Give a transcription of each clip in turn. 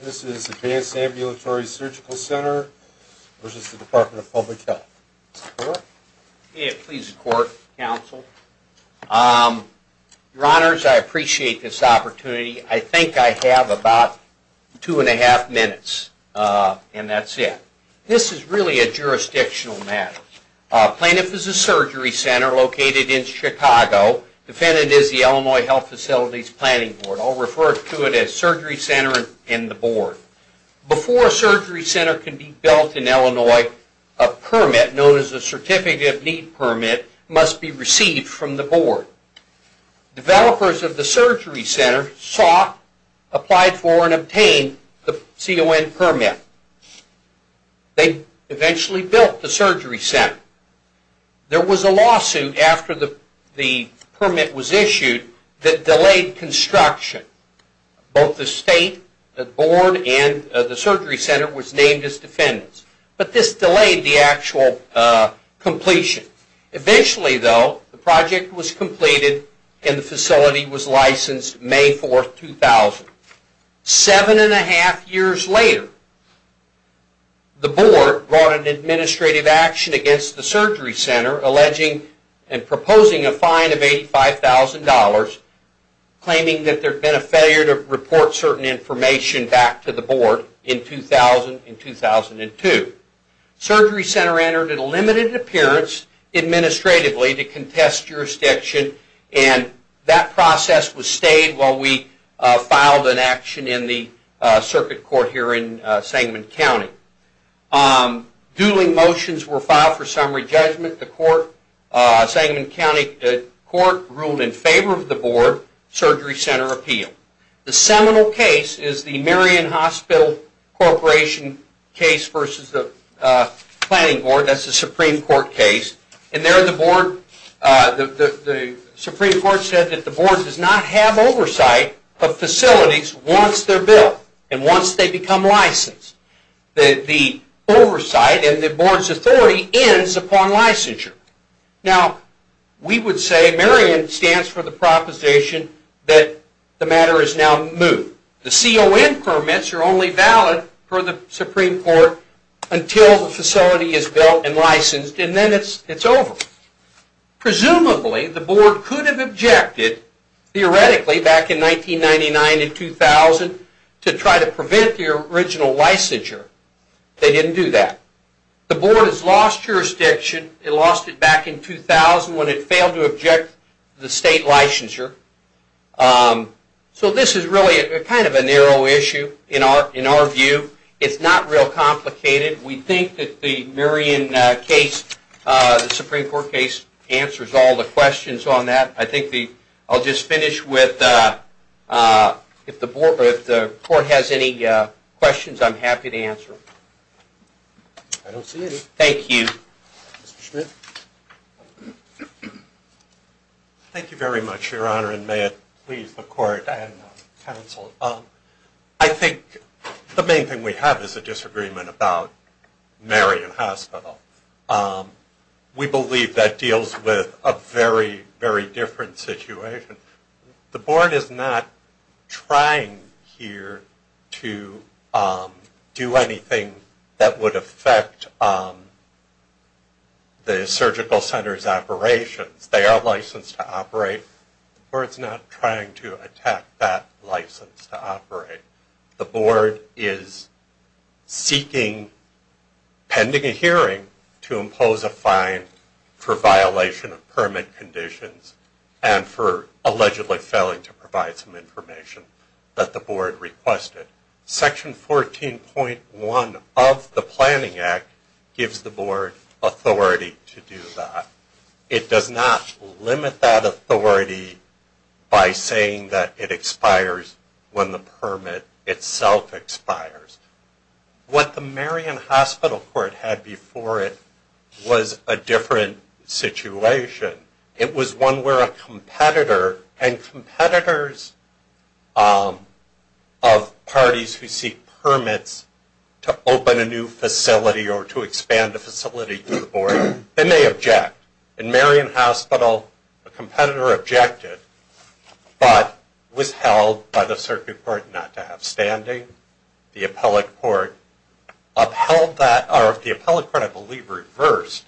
This is Advanced Ambulatory Surgical Center v. The Department of Public Health. May it please the Court, Counsel. Your Honors, I appreciate this opportunity. I think I have about two and a half minutes, and that's it. This is really a jurisdictional matter. Plaintiff is a surgery center located in Chicago. Defendant is the Illinois Health Facilities Planning Board. I'll refer to it as the board. Before a surgery center can be built in Illinois, a permit, known as a Certificate of Need permit, must be received from the board. Developers of the surgery center sought, applied for, and obtained the CON permit. They eventually built the surgery center. There was a lawsuit after the permit was issued that delayed construction. Both the state board and the surgery center was named as defendants. But this delayed the actual completion. Eventually, though, the project was completed and the facility was licensed May 4, 2000. Seven and a half years later, the board brought an administrative action against the surgery center alleging and proposing a fine of $85,000 claiming that there had been a failure to report certain information back to the board in 2000 and 2002. The surgery center entered a limited appearance administratively to contest jurisdiction and that process was stayed while we filed an action in the circuit court here in Sangamon County. Dueling motions were filed for summary judgment. The Sangamon County court ruled in favor of the board surgery center appeal. The seminal case is the Marion Hospital Corporation case versus the Planning Board, that's the Supreme Court case. And there the board, the Supreme Court said that the board does not have oversight of facilities once they're built and once they become licensed. The oversight in the board's authority ends upon licensure. Now, we would say Marion stands for the proposition that the matter is now moved. The CON permits are only valid for the Supreme Court until the facility is built and licensed and then it's over. Presumably, the board could have objected theoretically back in 1999 and 2000 to try to prevent the original licensure. They didn't do that. The board has lost jurisdiction, it lost it back in 2000 when it failed to object the state licensure. So this is really kind of a narrow issue in our view. It's not real complicated. We think that the Marion case, the Supreme Court case, answers all the questions on that. I think the, I'll just finish with, if the board, if the court has any questions, I'm happy to answer them. I don't see any. Thank you. Mr. Schmidt. Thank you very much, Your Honor, and may it please the court and counsel. I think the main thing we have is a disagreement about Marion Hospital. We believe that deals with a very, very different situation. The board is not trying here to do anything that would affect the surgical center's operations. They are licensed to operate. The board's not trying to attack that license to operate. The board is seeking, pending a hearing, to impose a fine for violation of permit conditions and for allegedly failing to provide some information that the board requested. Section 14.1 of the Planning Act gives the board authority to do that. It does not limit that authority by saying that it expires when the permit itself expires. What the Marion Hospital Court had before it was a different situation. It was one where a competitor, and competitors of parties who seek permits to open a new facility or to expand a facility to the board, then they object. In Marion Hospital, a competitor objected, but was held by the circuit court not to have standing. The appellate court upheld that, or the appellate court, I believe, reversed.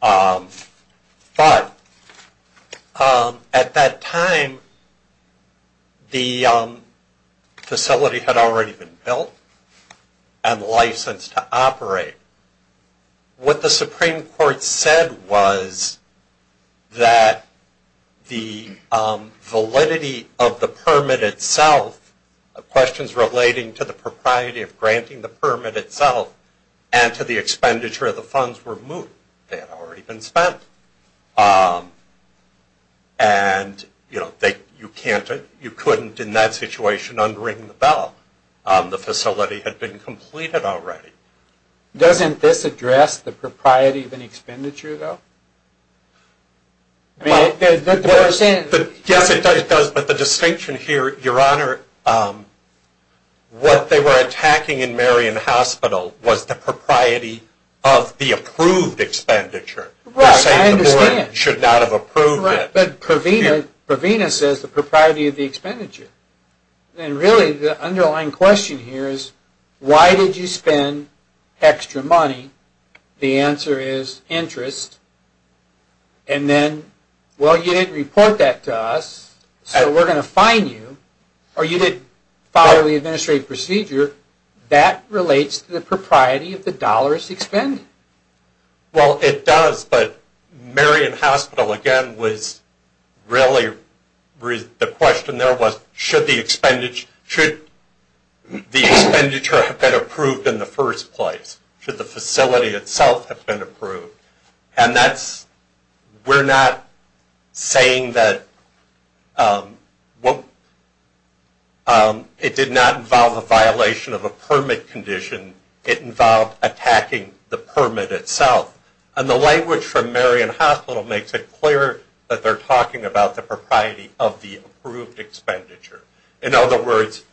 But, at that time, the facility had already been built and licensed to operate. What the Supreme Court said was that the validity of the permit itself, questions relating to the propriety of granting the permit itself, and to the expenditure of the funds removed. They had already been spent. And you couldn't, in that situation, unring the bell. The facility had been completed already. Doesn't this address the propriety of an expenditure, though? Yes, it does, but the distinction here, Your Honor, what they were attacking in Marion Hospital was the propriety of the approved expenditure. Right, I understand. They're saying the board should not have approved it. Correct, but Provena says the propriety of the expenditure. And really, the underlying question here is, why did you spend extra money? The answer is interest. And then, well, you didn't report that to us, so we're gonna fine you, or you didn't follow the administrative procedure. That relates to the propriety of the dollars expended? Well, it does, but Marion Hospital, again, was really, the question there was, should the expenditure have been approved in the first place? Should the facility itself have been approved? And that's, we're not saying that, well, it did not involve a violation of a permit condition. It involved attacking the permit itself. And the language from Marion Hospital makes it clear that they're talking about the propriety of the approved expenditure. In other words,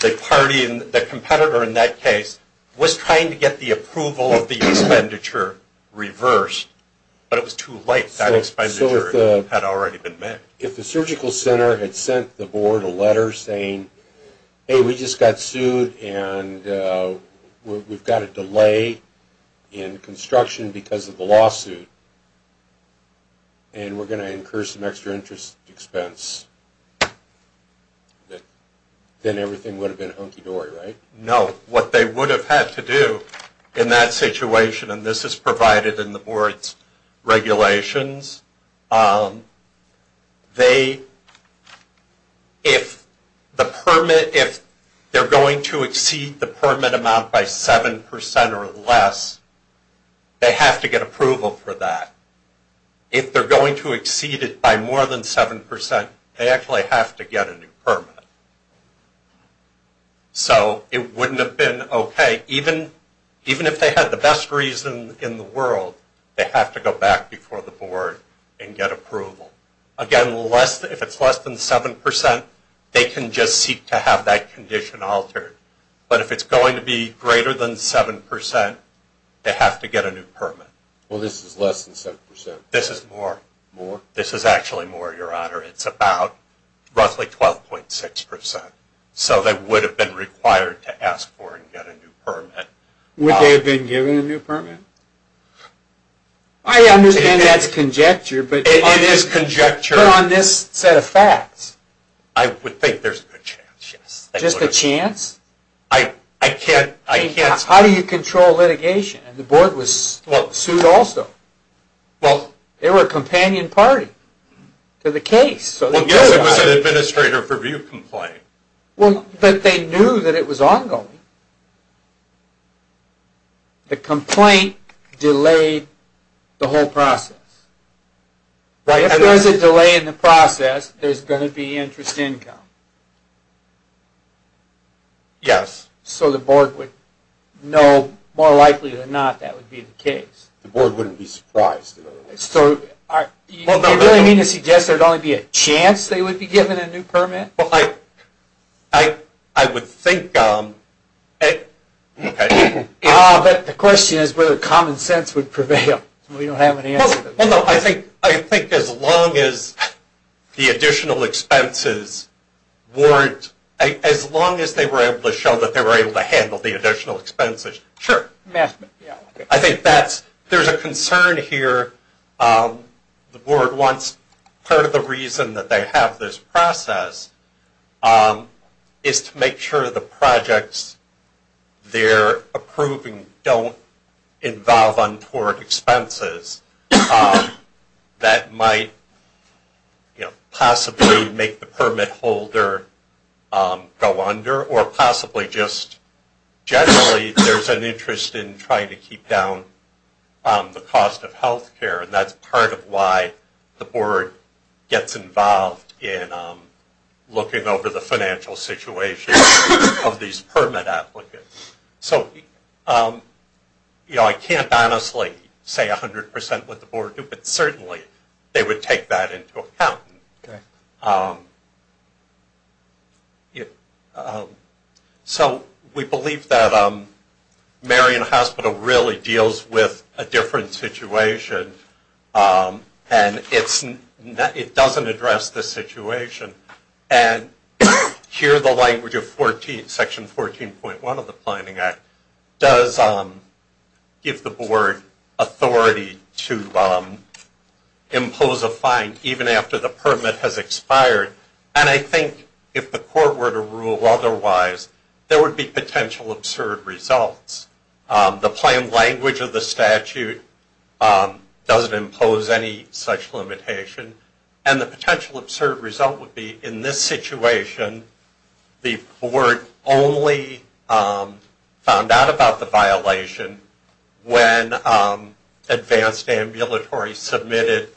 the party, the competitor in that case, was trying to get the approval of the expenditure reversed, but it was too late. That expenditure had already been made. If the surgical center had sent the board a letter saying, hey, we just got sued, and we've got a delay in construction because of the lawsuit, and we're gonna incur some extra interest expense, then everything would have been hunky-dory, right? No, what they would have had to do in that situation, and this is provided in the board's regulations, they, if the permit, if they're going to exceed the permit amount by 7% or less, they have to get approval for that. If they're going to exceed it by more than 7%, they actually have to get a new permit. So it wouldn't have been okay, even if they had the best reason in the world, they have to go back before the board and get approval. Again, if it's less than 7%, they can just seek to have that condition altered. But if it's going to be greater than 7%, they have to get a new permit. Well, this is less than 7%. This is more. More? This is actually more, Your Honor. It's about roughly 12.6%. So they would have been required to ask for and get a new permit. Would they have been given a new permit? I understand that's conjecture, but- It is conjecture. But on this set of facts. I would think there's a good chance, yes. Just a chance? I can't- How do you control litigation? And the board was sued also. Well- They were a companion party to the case, so they knew about it. Well, yes, it was an administrator review complaint. Well, but they knew that it was ongoing. The complaint delayed the whole process. If there's a delay in the process, there's going to be interest income. Yes. So the board would know, more likely than not, that would be the case. The board wouldn't be surprised. So, you really mean to suggest there'd only be a chance they would be given a new permit? Well, I would think, okay. Ah, but the question is whether common sense would prevail. We don't have an answer to that. Well, no, I think as long as the additional expenses weren't, as long as they were able to show that they were able to handle the additional expenses. Sure. I think that's, there's a concern here. The board wants, part of the reason that they have this process is to make sure the projects they're approving don't involve untoward expenses. That might possibly make the permit holder go under or possibly just, generally, there's an interest in trying to keep down the cost of healthcare. And that's part of why the board gets involved in looking over the financial situation of these permit applicants. So, I can't honestly say 100% what the board would do, but certainly, they would take that into account. So, we believe that Marion Hospital really deals with a different situation. And it doesn't address the situation. And here, the language of section 14.1 of the Planning Act does give the board authority to impose a fine even after the permit has expired. And I think if the court were to rule otherwise, there would be potential absurd results. The plan language of the statute doesn't impose any such limitation. And the potential absurd result would be, in this situation, the board only found out about the violation when Advanced Ambulatory submitted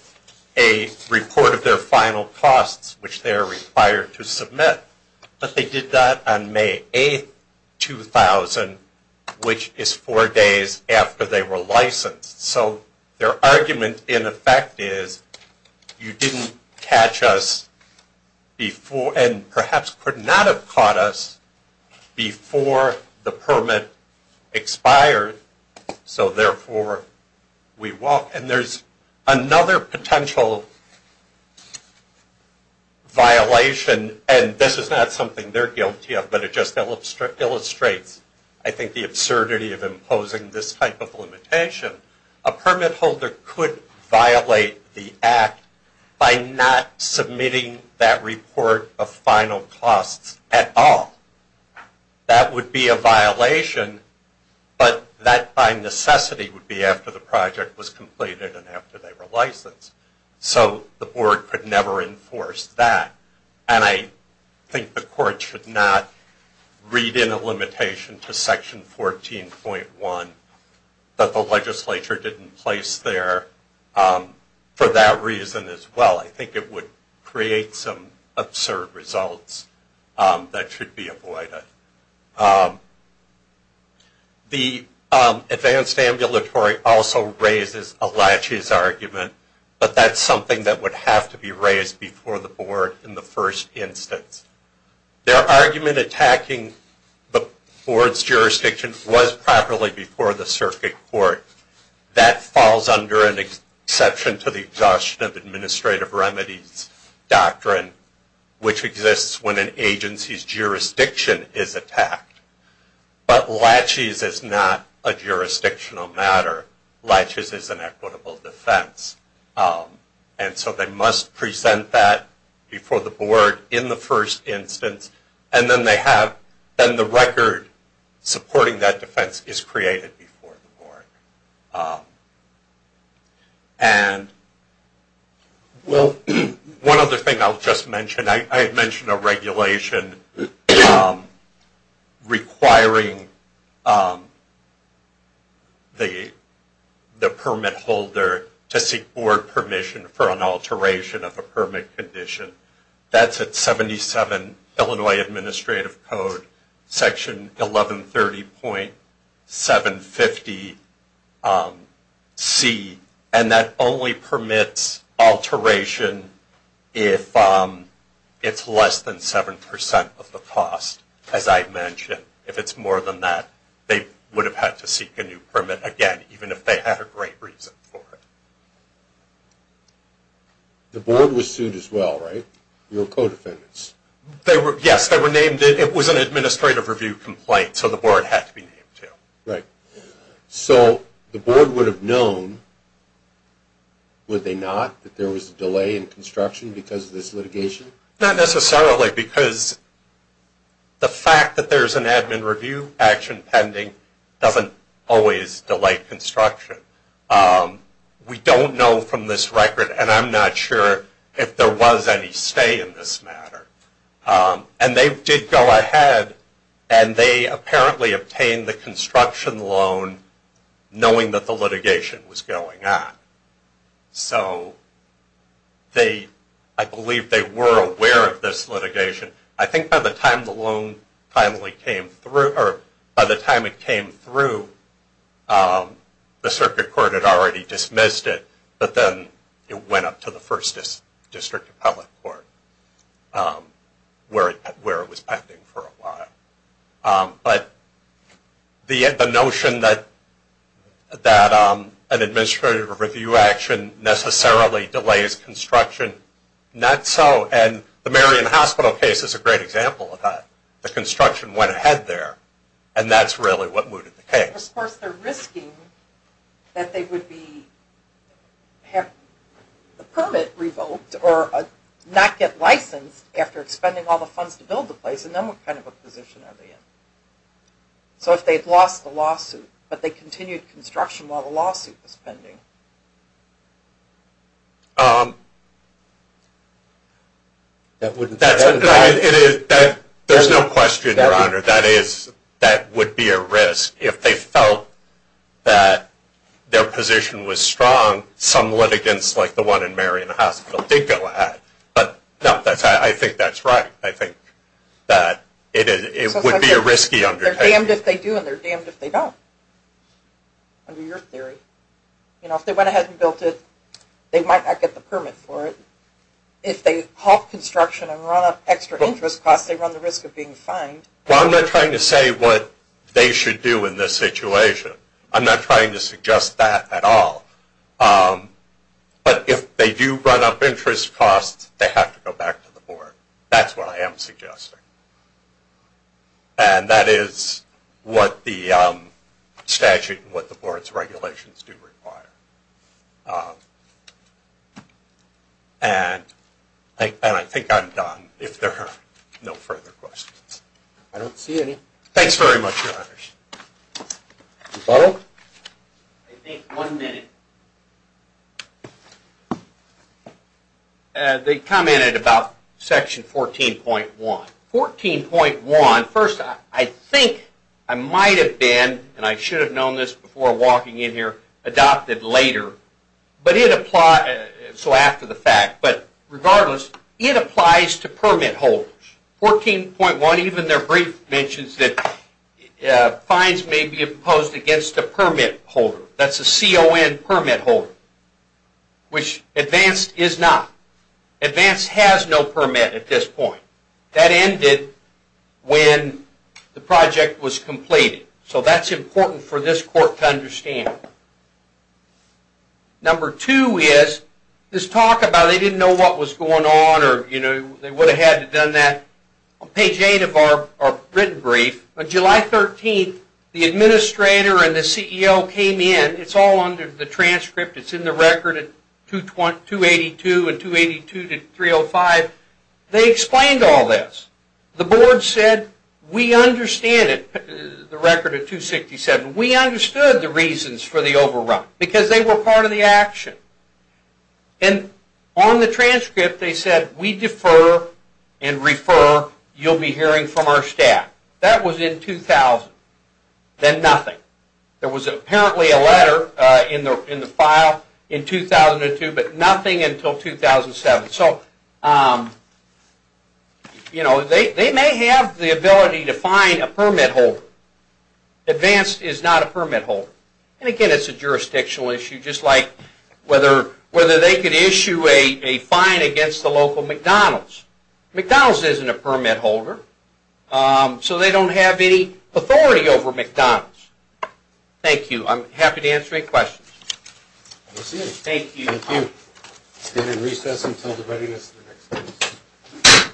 a report of their final costs, which they are required to submit. But they did that on May 8, 2000, which is four days after they were licensed. So, their argument, in effect, is, you didn't catch us before, and perhaps could not have caught us before the permit expired. So, therefore, we walk. And there's another potential violation, and this is not something they're guilty of, but it just illustrates, I think, the absurdity of imposing this type of limitation. A permit holder could violate the act by not submitting that report of final costs at all. That would be a violation, but that, by necessity, would be after the project was completed and after they were licensed. So, the board could never enforce that. And I think the court should not read in a limitation to section 14.1 that the legislature didn't place there for that reason as well. I think it would create some absurd results that should be avoided. The advanced ambulatory also raises a latches argument, but that's something that would have to be raised before the board in the first instance. Their argument attacking the board's jurisdiction was properly before the circuit court. That falls under an exception to the exhaustion of administrative remedies doctrine, which exists when an agency's jurisdiction is attacked. But latches is not a jurisdictional matter. Latches is an equitable defense. And so, they must present that before the board in the first instance, and then they have, is created before the board. And, well, one other thing I'll just mention, I had mentioned a regulation requiring the permit holder to seek board permission for an alteration of a permit condition. That's at 77 Illinois Administrative Code, section 1130.750C, and that only permits alteration if it's less than 7% of the cost, as I've mentioned. If it's more than that, they would have had to seek a new permit again, even if they had a great reason for it. The board was sued as well, right? Your co-defendants. Yes, they were named it. It was an administrative review complaint, so the board had to be named too. Right, so the board would have known, would they not, that there was a delay in construction because of this litigation? Not necessarily, because the fact that there's an admin review action pending doesn't always delay construction. We don't know from this record, and I'm not sure if there was any stay in this matter. And they did go ahead, and they apparently obtained the construction loan knowing that the litigation was going on. So I believe they were aware of this litigation. I think by the time the loan finally came through, or by the time it came through, the circuit court had already dismissed it, but then it went up to the first district appellate court. Where it was pending for a while. But the notion that an administrative review action necessarily delays construction, not so. And the Marion Hospital case is a great example of that. The construction went ahead there, and that's really what mooted the case. Of course, they're risking that they would be, have the permit revoked, or not get licensed after expending all the funds to build the place, and then what kind of a position are they in? So if they'd lost the lawsuit, but they continued construction while the lawsuit was pending. There's no question, Your Honor, that would be a risk. If they felt that their position was strong, some litigants like the one in Marion Hospital did go ahead. But no, I think that's right. I think that it would be a risky undertaking. They're damned if they do, and they're damned if they don't, under your theory. You know, if they went ahead and built it, they might not get the permit for it. If they halt construction and run up extra interest costs, they run the risk of being fined. Well, I'm not trying to say what they should do in this situation. I'm not trying to suggest that at all. But if they do run up interest costs, they have to go back to the board. That's what I am suggesting. And that is what the statute and what the board's regulations do require. And I think I'm done, if there are no further questions. Thanks very much, Your Honors. Mr. Butler? I think one minute. They commented about Section 14.1. 14.1, first, I think I might have been, and I should have known this before walking in here, adopted later, so after the fact. But regardless, it applies to permit holders. 14.1, even their brief mentions that fines may be imposed against a permit holder. That's a CON permit holder, which advanced is not. Advanced has no permit at this point. That ended when the project was completed. So that's important for this court to understand. Number two is this talk about they didn't know what was going on or they would have had to have done that. On page eight of our written brief, on July 13th, the administrator and the CEO came in, it's all under the transcript, it's in the record at 282 and 282 to 305. They explained all this. The board said, we understand it, the record at 267, we understood the reasons for the overrun because they were part of the action. And on the transcript, they said, we defer and refer, you'll be hearing from our staff. That was in 2000, then nothing. There was apparently a letter in the file in 2002, but nothing until 2007. So they may have the ability to fine a permit holder. Advanced is not a permit holder. And again, it's a jurisdictional issue, just like whether they could issue a fine against the local McDonald's. McDonald's isn't a permit holder, so they don't have any authority over McDonald's. Thank you. I'm happy to answer any questions. Thank you. Thank you. We'll stand in recess until the readiness of the next meeting.